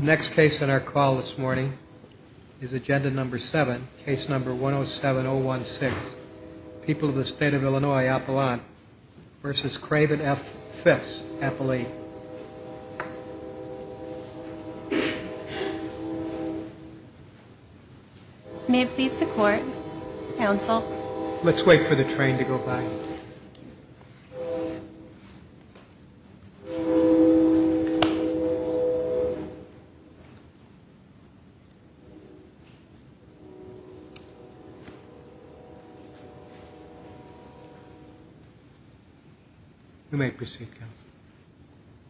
Next case on our call this morning is agenda number 7, case number 107016, People of the State of Illinois, Appalachia, versus Craven F. Phipps, Appalachia. May it please the court, counsel. Let's wait for the train to go by.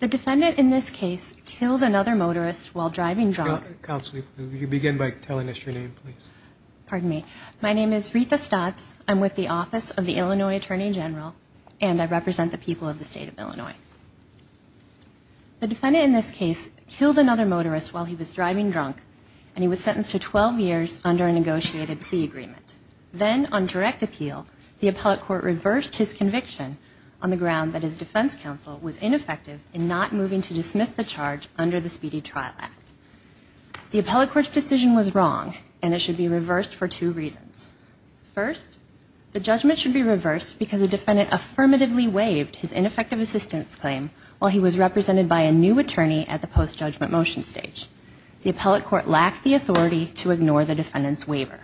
The defendant in this case killed another motorist while driving drunk. The defendant in this case killed another motorist while he was driving drunk and he was sentenced to 12 years under a negotiated plea agreement. Then on direct appeal, the appellate court reversed his conviction on the ground that his defense counsel was ineffective in not moving to dismiss the charge under the Speedy Trial Act. The appellate court's decision was wrong and it should be reversed for two reasons. First, the judgment should be reversed because the defendant affirmatively waived his ineffective assistance claim while he was represented by a new attorney at the post-judgment motion stage. The appellate court lacked the authority to ignore the defendant's waiver.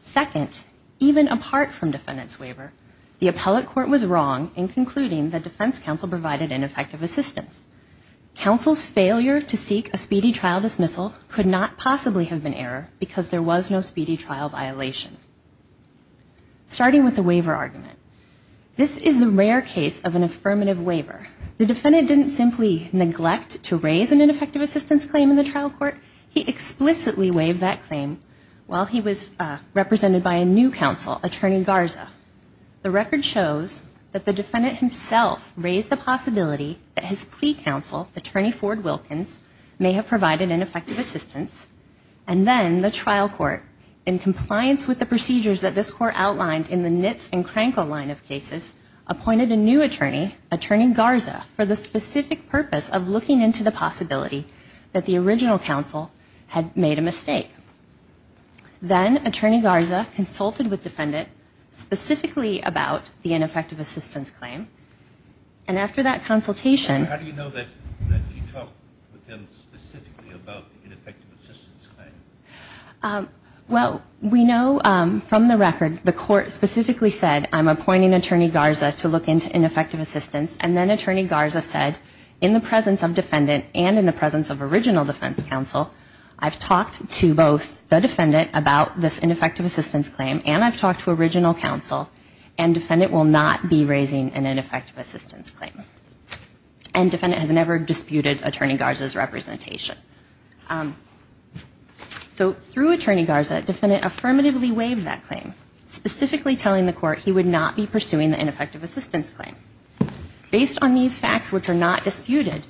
Second, even apart from defendant's waiver, the appellate court was wrong in concluding that defense counsel provided ineffective assistance. Counsel's failure to seek a Speedy Trial dismissal could not possibly have been error because there was no Speedy Trial violation. Starting with the waiver argument. This is the rare case of an affirmative waiver. The defendant didn't simply neglect to raise an ineffective assistance claim in the trial court. He explicitly waived that claim while he was represented by a new counsel, Attorney Garza. The record shows that the defendant himself raised the possibility that his plea counsel, Attorney Ford Wilkins, may have provided ineffective assistance. And then the trial court, in compliance with the procedures that this court outlined in the Nitz and Krankel line of cases, appointed a new attorney, Attorney Garza, for the specific purpose of looking into the possibility that the original counsel had made a mistake. Then Attorney Garza consulted with the defendant specifically about the ineffective assistance claim. And after that consultation... How do you know that he talked with him specifically about the ineffective assistance claim? Well, we know from the record the court specifically said, I'm appointing Attorney Garza to look into ineffective assistance. And then Attorney Garza said, in the presence of defendant and in the presence of original defense counsel, I've talked to both the defendant about this ineffective assistance claim and I've talked to original counsel and defendant will not be raising an ineffective assistance claim. And defendant has never disputed Attorney Garza's representation. So through Attorney Garza, defendant affirmatively waived that claim, specifically telling the court he would not be pursuing the ineffective assistance claim. Based on these facts, which are not disputed,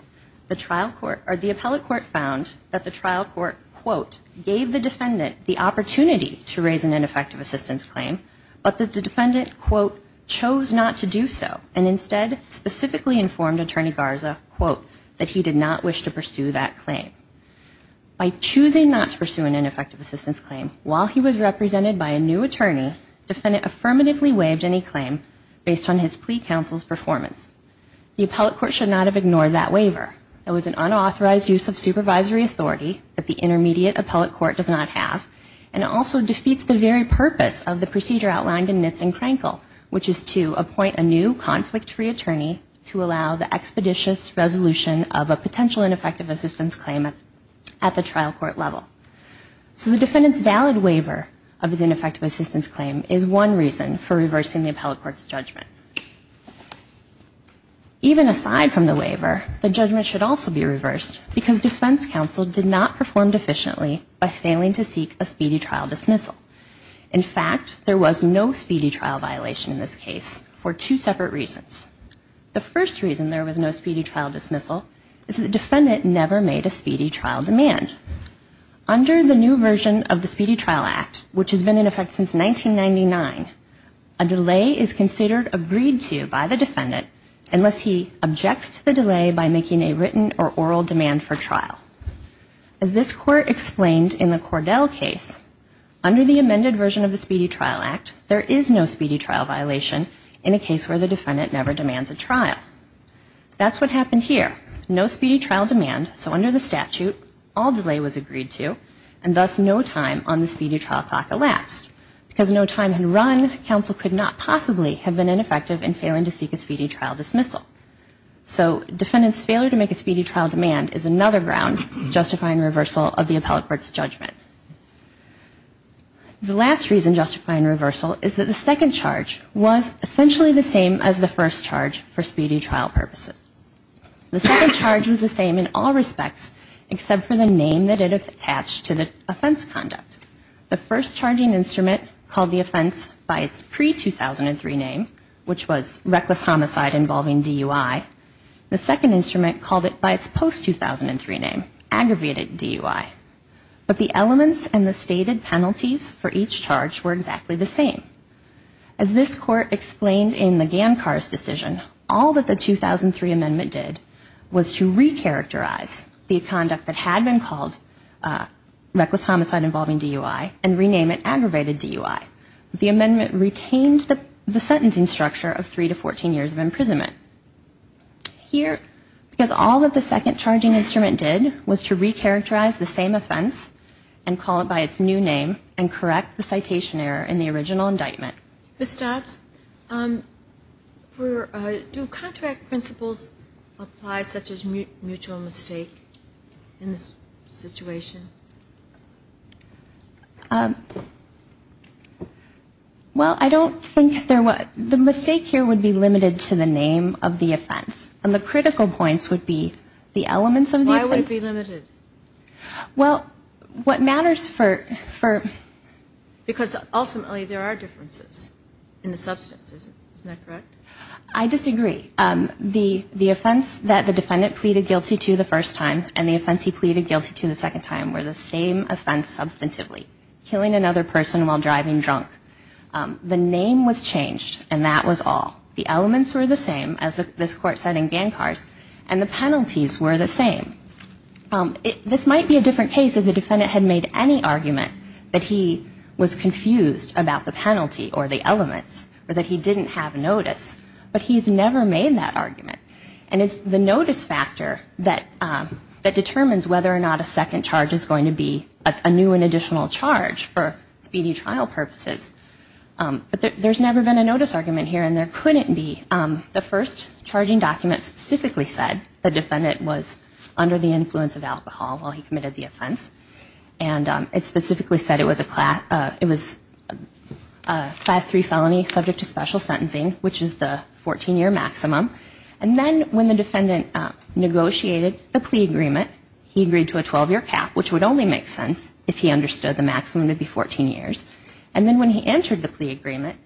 the trial court or the appellate court found that the trial court, quote, gave the defendant the opportunity to raise an ineffective assistance claim, but the defendant, quote, chose not to do so and instead specifically informed Attorney Garza, quote, that he did not wish to pursue that claim. By choosing not to pursue an ineffective assistance claim, while he was represented by a new attorney, the defendant affirmatively waived any claim based on his plea counsel's performance. The appellate court should not have ignored that waiver. It was an unauthorized use of supervisory authority that the intermediate appellate court does not have and it also defeats the very purpose of the procedure outlined in Nitz and Crankle, which is to appoint a new conflict-free attorney to allow the expeditious resolution of a potential ineffective assistance claim at the trial court level. So the defendant's valid waiver of his ineffective assistance claim is one reason for reversing the appellate court's judgment. Even aside from the waiver, the judgment should also be reversed because defense counsel did not perform deficiently by failing to seek a speedy trial dismissal. In fact, there was no speedy trial violation in this case for two separate reasons. The first reason there was no speedy trial dismissal is the defendant never made a speedy trial demand. Under the new version of the Speedy Trial Act, which has been in effect since 1999, a delay is considered agreed to by the defendant unless he objects to the delay by making a written or oral demand for trial. As this court explained in the Cordell case, under the amended version of the Speedy Trial Act, there is no speedy trial violation in a case where the defendant never demands a trial. That's what happened here. No speedy trial demand, so under the statute, all delay was agreed to, and thus no time on the speedy trial clock elapsed. Because no time had run, counsel could not possibly have been ineffective in failing to seek a speedy trial dismissal. So defendant's failure to make a speedy trial demand is another ground justifying reversal of the appellate court's judgment. The last reason justifying reversal is that the second charge was essentially the same as the first charge for speedy trial purposes. The second charge was the same in all respects except for the name that it attached to the offense conduct. The first charging instrument called the offense by its pre-2003 name, which was reckless homicide involving DUI. The second instrument called it by its post-2003 name, aggravated DUI. But the elements and the stated penalties for each charge were exactly the same. As this court explained in the Gancar's decision, all that the 2003 amendment did was to recharacterize the conduct that had been called reckless homicide involving DUI and rename it aggravated DUI. The amendment retained the sentencing structure of three to 14 years of imprisonment. Here, because all that the second charging instrument did was to recharacterize the same offense and call it by its new name and correct the citation error in the original indictment. Ms. Dobbs, do contract principles apply such as mutual mistake in this situation? Well, I don't think there was. The mistake here would be limited to the name of the offense. And the critical points would be the elements of the offense. Why would it be limited? Well, what matters for... Because ultimately there are differences in the substance, isn't that correct? I disagree. The offense that the defendant pleaded guilty to the first time and the offense he pleaded guilty to the second time were the same offense substantively, and the penalties were the same. This might be a different case if the defendant had made any argument that he was confused about the penalty or the elements or that he didn't have notice, but he's never made that argument. And it's the notice factor that determines whether or not a second charge is going to be a new and additional charge for speedy trial purposes. But there's never been a notice argument here, and there couldn't be. The first charging document specifically said the defendant was under the influence of alcohol while he committed the offense. And it specifically said it was a Class III felony subject to special sentencing, which is the 14-year maximum. And then when the defendant negotiated the plea agreement, he agreed to a 12-year cap, which would only make sense if he understood the maximum to be 14 years. And then when he entered the plea agreement,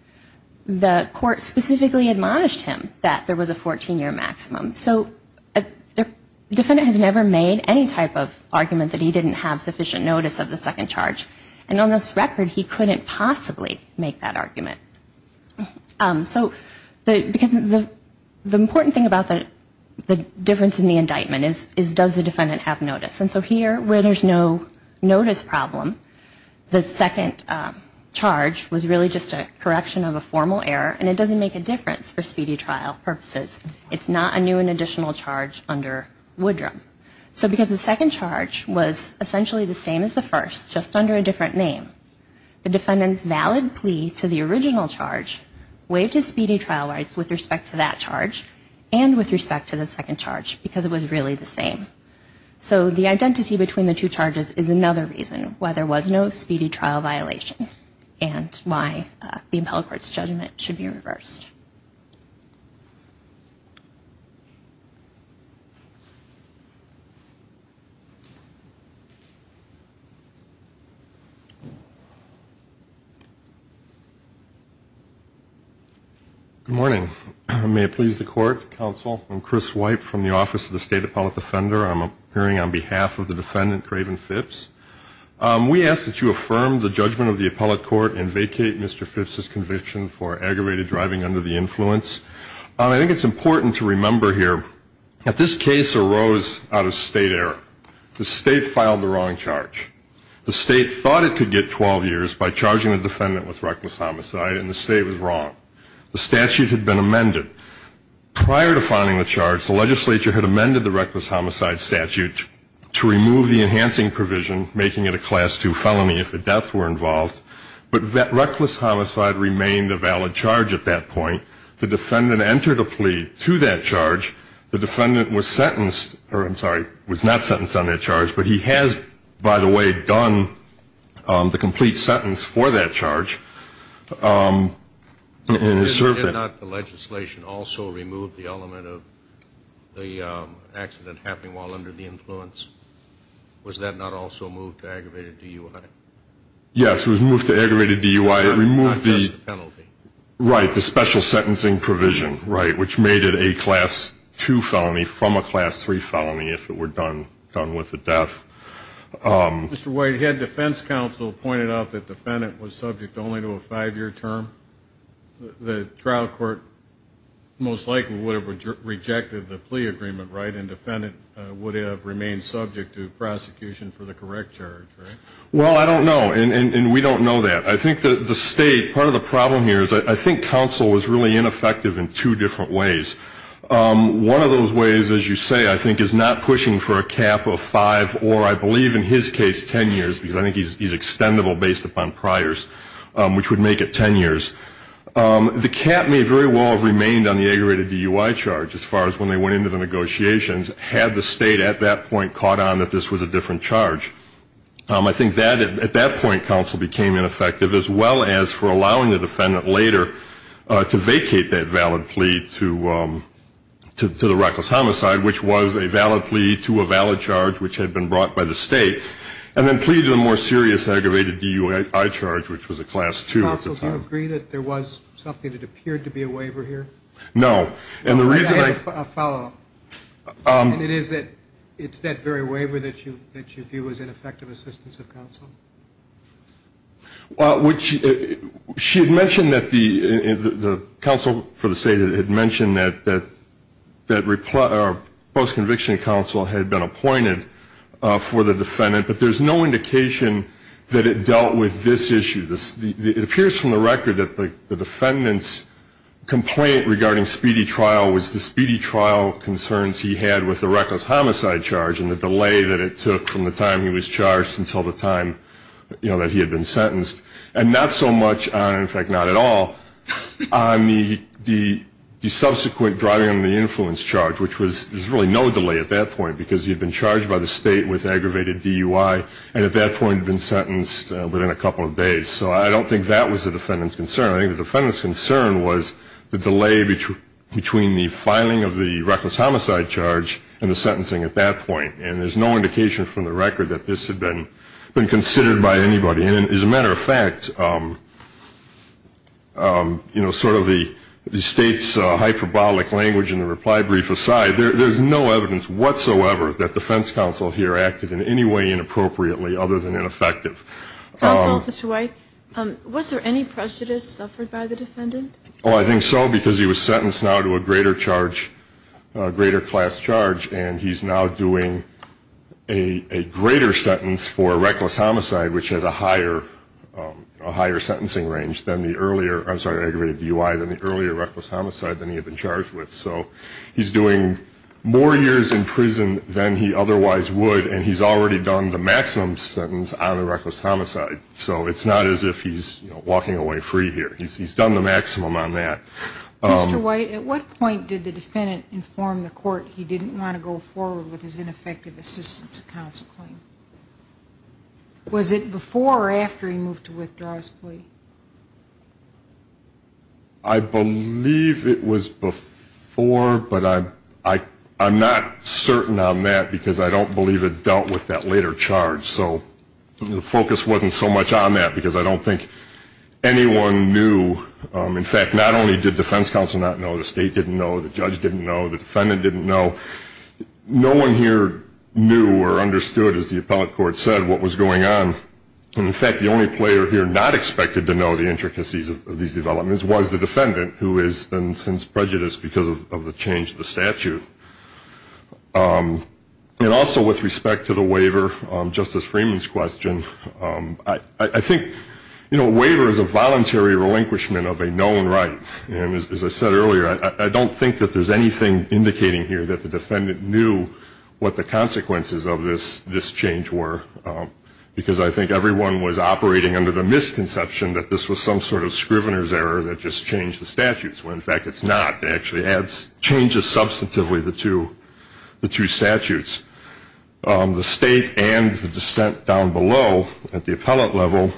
the court specifically admonished him that there was a 14-year maximum. So the defendant has never made any type of argument that he didn't have sufficient notice of the second charge. And on this record, he couldn't possibly make that argument. So the important thing about the difference in the indictment is does the defendant have notice. And so here, where there's no notice problem, the second charge was really just a correction of a formal error, and it doesn't make a difference for speedy trial purposes. It's not a new and additional charge under Woodrum. So because the second charge was essentially the same as the first, just under a different name, the defendant's valid plea to the original charge waived his speedy trial rights with respect to that charge, and with respect to the second charge, because it was really the same. So the identity between the two charges is another reason why there was no speedy trial violation, and why the appellate court's judgment should be reversed. Thank you very much. Good morning. May it please the Court, Counsel, I'm Chris White from the Office of the State Appellate Defender. I'm appearing on behalf of the defendant, Craven Phipps. We ask that you affirm the judgment of the appellate court and vacate Mr. Phipps' conviction for aggravated driving under the influence. I think it's important to remember here that this case arose out of State error. The State filed the wrong charge. The State thought it could get 12 years by charging the defendant with reckless homicide, and the State was wrong. The statute had been amended. Prior to filing the charge, the legislature had amended the reckless homicide statute to remove the enhancing provision, making it a Class II felony if the deaths were involved, but reckless homicide remained a valid charge at that point. The defendant entered a plea to that charge. The defendant was sentenced, or I'm sorry, was not sentenced on that charge, but he has, by the way, done the complete sentence for that charge and has served it. Did not the legislation also remove the element of the accident happening while under the influence? Was that not also moved to aggravated DUI? Yes, it was moved to aggravated DUI. It removed the penalty. Right, the special sentencing provision, which made it a Class II felony from a Class III felony if it were done with a death. Mr. White, had defense counsel pointed out that the defendant was subject only to a five-year term? The trial court most likely would have rejected the plea agreement, right, and the defendant would have remained subject to prosecution for the correct charge, right? Well, I don't know, and we don't know that. I think the State, part of the problem here is I think counsel was really ineffective in two different ways. One of those ways, as you say, I think is not pushing for a cap of five or, I believe in his case, 10 years, because I think he's extendable based upon priors, which would make it 10 years. The cap may very well have remained on the aggravated DUI charge as far as when they went into the negotiations, had the State at that point caught on that this was a different charge. I think that at that point counsel became ineffective, as well as for allowing the defendant later to vacate that valid plea to the reckless homicide, which was a valid plea to a valid charge, which had been brought by the State, and then pleaded a more serious aggravated DUI charge, which was a Class II at the time. Counsel, do you agree that there was something that appeared to be a waiver here? No, and the reason I – I have a follow-up. And it is that it's that very waiver that you view as ineffective assistance of counsel? Well, she had mentioned that the counsel for the State had mentioned that post-conviction counsel had been appointed for the defendant, but there's no indication that it dealt with this issue. It appears from the record that the defendant's complaint regarding speedy trial was the speedy trial concerns he had with the reckless homicide charge, and the delay that it took from the time he was charged until the time that he had been sentenced. And not so much on – in fact, not at all – on the subsequent driving under the influence charge, which was – there was really no delay at that point because he had been charged by the State with aggravated DUI, and at that point had been sentenced within a couple of days. So I don't think that was the defendant's concern. I think the defendant's concern was the delay between the filing of the reckless homicide charge and the sentencing at that point. And there's no indication from the record that this had been considered by anybody. And as a matter of fact, you know, sort of the State's hyperbolic language in the reply brief aside, there's no evidence whatsoever that defense counsel here acted in any way inappropriately other than ineffective. Counsel, Mr. White, was there any prejudice suffered by the defendant? Oh, I think so, because he was sentenced now to a greater charge – a greater class charge, and he's now doing a greater sentence for reckless homicide, which has a higher – a higher sentencing range than the earlier – I'm sorry, aggravated DUI – than the earlier reckless homicide than he had been charged with. So he's doing more years in prison than he otherwise would, and he's already done the maximum sentence on a reckless homicide. So it's not as if he's walking away free here. He's done the maximum on that. Mr. White, at what point did the defendant inform the court he didn't want to go forward with his ineffective assistance counsel claim? Was it before or after he moved to withdraw his plea? I believe it was before, but I'm not certain on that, because I don't believe it dealt with that later charge. So the focus wasn't so much on that, because I don't think anyone knew. In fact, not only did defense counsel not know, the state didn't know, the judge didn't know, the defendant didn't know. No one here knew or understood, as the appellate court said, what was going on. And in fact, the only player here not expected to know the intricacies of these developments was the defendant, who has been since prejudiced because of the change of the statute. And also with respect to the waiver, Justice Freeman's question, I think a waiver is a voluntary relinquishment of a known right. And as I said earlier, I don't think that there's anything indicating here that the defendant knew what the consequences of this change were, because I think everyone was operating under the misconception that this was some sort of scrivener's error that just changed the statutes, when in fact it's not. It actually changes substantively the two statutes. The state and the dissent down below at the appellate level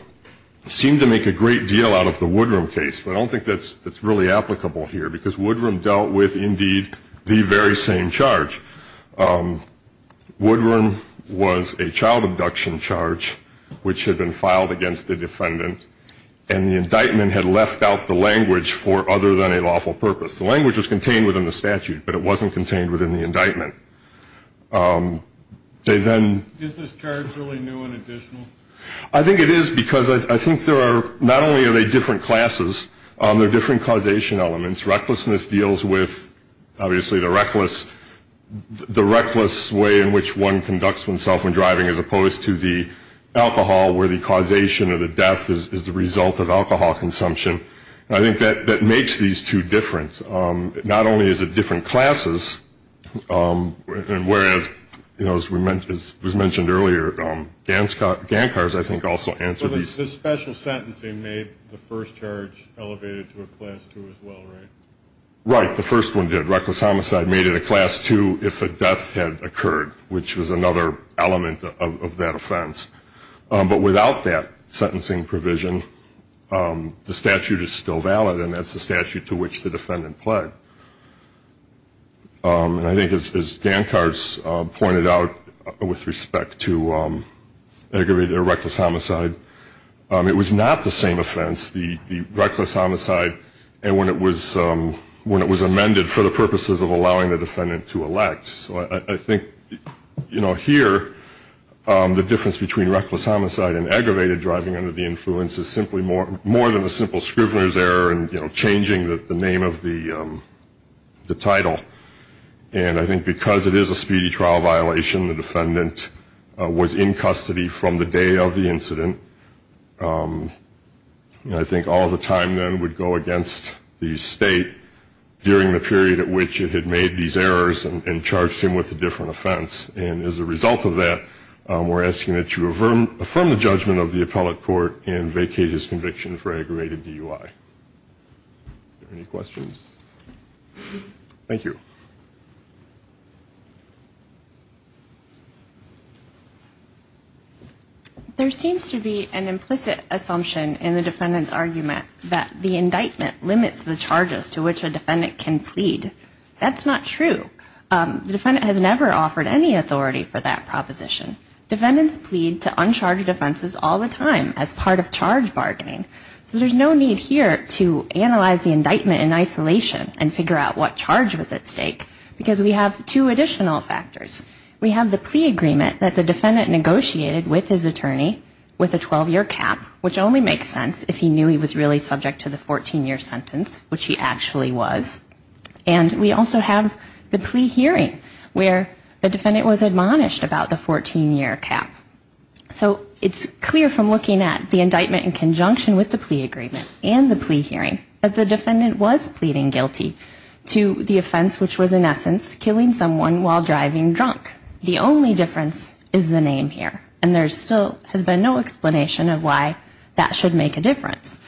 seemed to make a great deal out of the Woodrum case, but I don't think that's really applicable here, because Woodrum dealt with, indeed, the very same charge. Woodrum was a child abduction charge, which had been filed against the defendant, and the indictment had left out the language for other than a lawful purpose. The language was contained within the statute, but it wasn't contained within the indictment. Is this charge really new and additional? I think it is, because I think not only are they different classes, they're different causation elements. Recklessness deals with, obviously, the reckless way in which one conducts oneself when driving, as opposed to the alcohol, where the causation or the death is the result of alcohol consumption. I think that makes these two different. Not only is it different classes, whereas, as was mentioned earlier, Gancars, I think, also answer these. The special sentencing made the first charge elevated to a class two as well, right? Right. The first one did. Reckless homicide made it a class two if a death had occurred, which was another element of that offense. But without that sentencing provision, the statute is still valid, and that's the statute to which the defendant pled. And I think, as Gancars pointed out with respect to aggravated or reckless homicide, it was not the same offense, the reckless homicide, and when it was amended for the purposes of allowing the defendant to elect. So I think, you know, here, the difference between reckless homicide and aggravated driving under the influence is simply more than a simple scrivener's error and, you know, changing the name of the title. And I think because it is a speedy trial violation, the defendant was in custody from the day of the incident. I think all the time then would go against the state during the period at which it had made these errors and charged him with a different offense. And as a result of that, we're asking that you affirm the judgment of the appellate court and vacate his conviction for aggravated DUI. Any questions? Thank you. There seems to be an implicit assumption in the defendant's argument That's not true. The defendant has never offered any authority for that proposition. Defendants plead to uncharged offenses all the time as part of charge bargaining. So there's no need here to analyze the indictment in isolation and figure out what charge was at stake because we have two additional factors. We have the plea agreement that the defendant negotiated with his attorney with a 12-year cap, which only makes sense if he knew he was really subject to the 14-year sentence, which he actually was. And we also have the plea hearing where the defendant was admonished about the 14-year cap. So it's clear from looking at the indictment in conjunction with the plea agreement and the plea hearing that the defendant was pleading guilty to the offense, which was in essence killing someone while driving drunk. The only difference is the name here. And there still has been no explanation of why that should make a difference.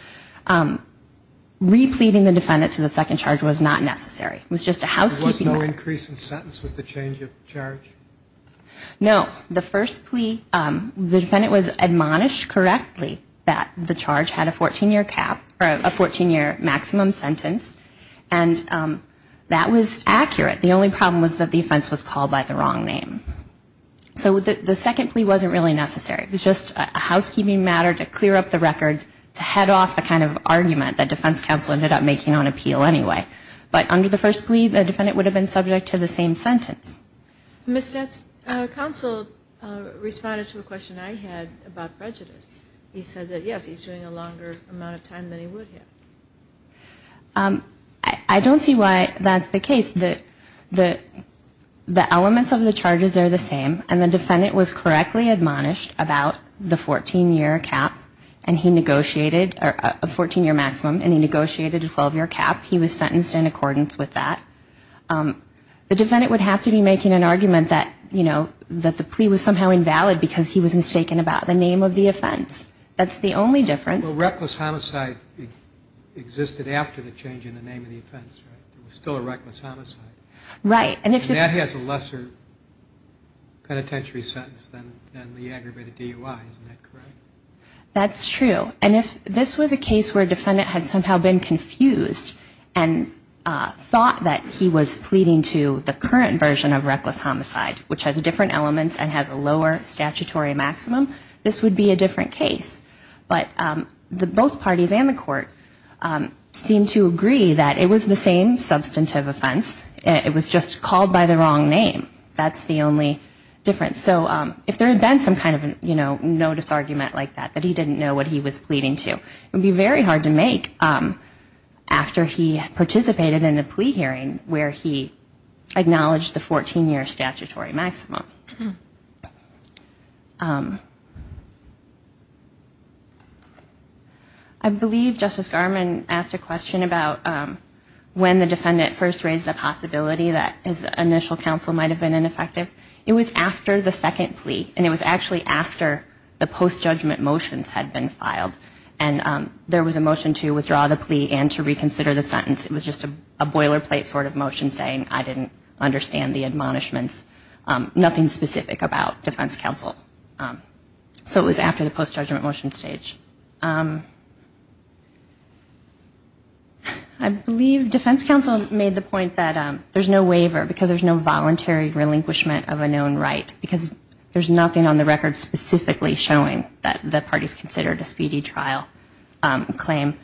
Repleading the defendant to the second charge was not necessary. It was just a housekeeping matter. There was no increase in sentence with the change of charge? No. The first plea, the defendant was admonished correctly that the charge had a 14-year cap or a 14-year maximum sentence, and that was accurate. The only problem was that the offense was called by the wrong name. So the second plea wasn't really necessary. It was just a housekeeping matter to clear up the record to head off the kind of argument that defense counsel ended up making on appeal anyway. But under the first plea, the defendant would have been subject to the same sentence. Ms. Stutz, counsel responded to a question I had about prejudice. He said that, yes, he's doing a longer amount of time than he would have. I don't see why that's the case. The elements of the charges are the same, and the defendant was correctly admonished about the 14-year cap, and he negotiated a 14-year maximum, and he negotiated a 12-year cap. He was sentenced in accordance with that. The defendant would have to be making an argument that, you know, that the plea was somehow invalid because he was mistaken about the name of the offense. That's the only difference. Well, reckless homicide existed after the change in the name of the offense, right? There was still a reckless homicide. Right. And that has a lesser penitentiary sentence than the aggravated DUI. Isn't that correct? That's true. And if this was a case where a defendant had somehow been confused and thought that he was pleading to the current version of reckless homicide, which has different elements and has a lower statutory maximum, this would be a different case. But both parties and the court seemed to agree that it was the same substantive offense. It was just called by the wrong name. That's the only difference. So if there had been some kind of notice argument like that, that he didn't know what he was pleading to, it would be very hard to make after he participated in a plea hearing where he acknowledged the 14-year statutory maximum. I believe Justice Garmon asked a question about when the defendant first raised the possibility that his initial counsel might have been ineffective. It was after the second plea. And it was actually after the post-judgment motions had been filed. And there was a motion to withdraw the plea and to reconsider the sentence. It was just a boilerplate sort of motion saying I didn't understand the admonishments, nothing specific about defense counsel. So it was after the post-judgment motion stage. I believe defense counsel made the point that there's no waiver because there's no voluntary relinquishment of a known right because there's nothing on the record specifically showing that the party's considered a speedy trial claim.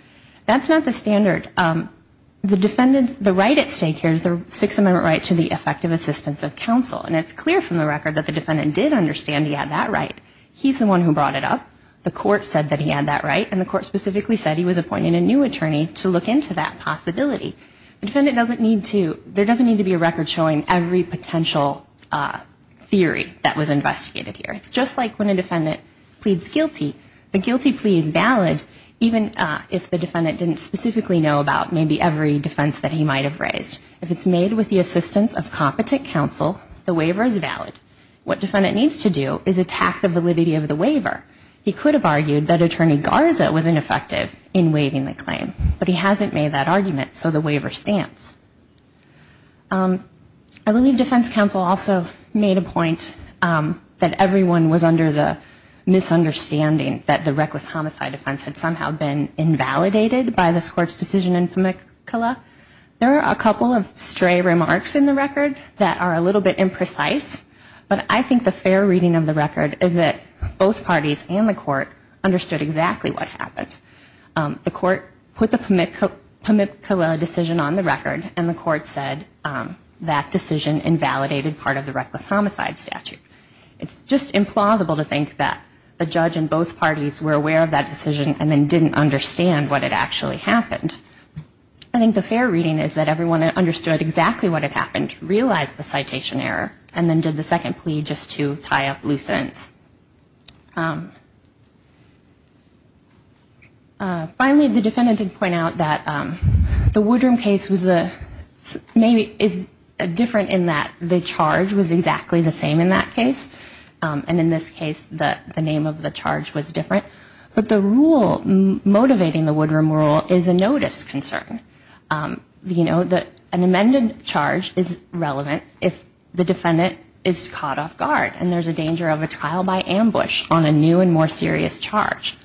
That's not the standard. The right at stake here is the Sixth Amendment right to the effective assistance of counsel. And it's clear from the record that the defendant did understand he had that right. He's the one who brought it up. The court said that he had that right, and the court specifically said he was appointing a new attorney to look into that possibility. The defendant doesn't need to be a record showing every potential theory that was investigated here. It's just like when a defendant pleads guilty. The guilty plea is valid even if the defendant didn't specifically know about maybe every defense that he might have raised. If it's made with the assistance of competent counsel, the waiver is valid. What defendant needs to do is attack the validity of the waiver. He could have argued that attorney Garza was ineffective in waiving the claim, but he hasn't made that argument, so the waiver stands. I believe defense counsel also made a point that everyone was under the misunderstanding that the reckless homicide offense had somehow been invalidated by this court's decision in Pamukkala. There are a couple of stray remarks in the record that are a little bit imprecise. But I think the fair reading of the record is that both parties and the court understood exactly what happened. The court put the Pamukkala decision on the record, and the court said that decision invalidated part of the reckless homicide statute. It's just implausible to think that a judge in both parties were aware of that decision and then didn't understand what had actually happened. I think the fair reading is that everyone understood exactly what had happened, realized the citation error, and then did the second plea just to tie up loose ends. Finally, the defendant did point out that the Woodrum case is different in that the charge was exactly the same in that case. And in this case, the name of the charge was different. But the rule motivating the Woodrum rule is a notice concern. An amended charge is relevant if the defendant is caught off guard and there's a danger of a trial by ambush on a new and more serious charge.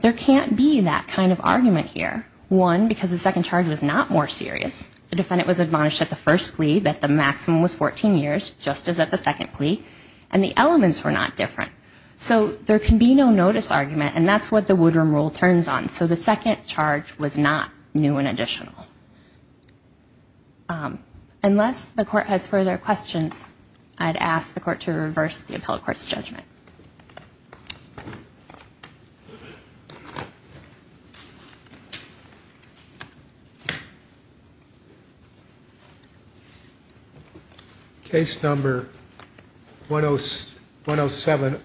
There can't be that kind of argument here. One, because the second charge was not more serious. The defendant was admonished at the first plea that the maximum was 14 years, just as at the second plea, and the elements were not different. So there can be no notice argument, and that's what the Woodrum rule turns on. So the second charge was not new and additional. Unless the court has further questions, I'd ask the court to reverse the appellate court's judgment. Case number 107016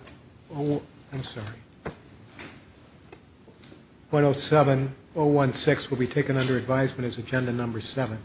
will be taken under advisement as agenda number 7.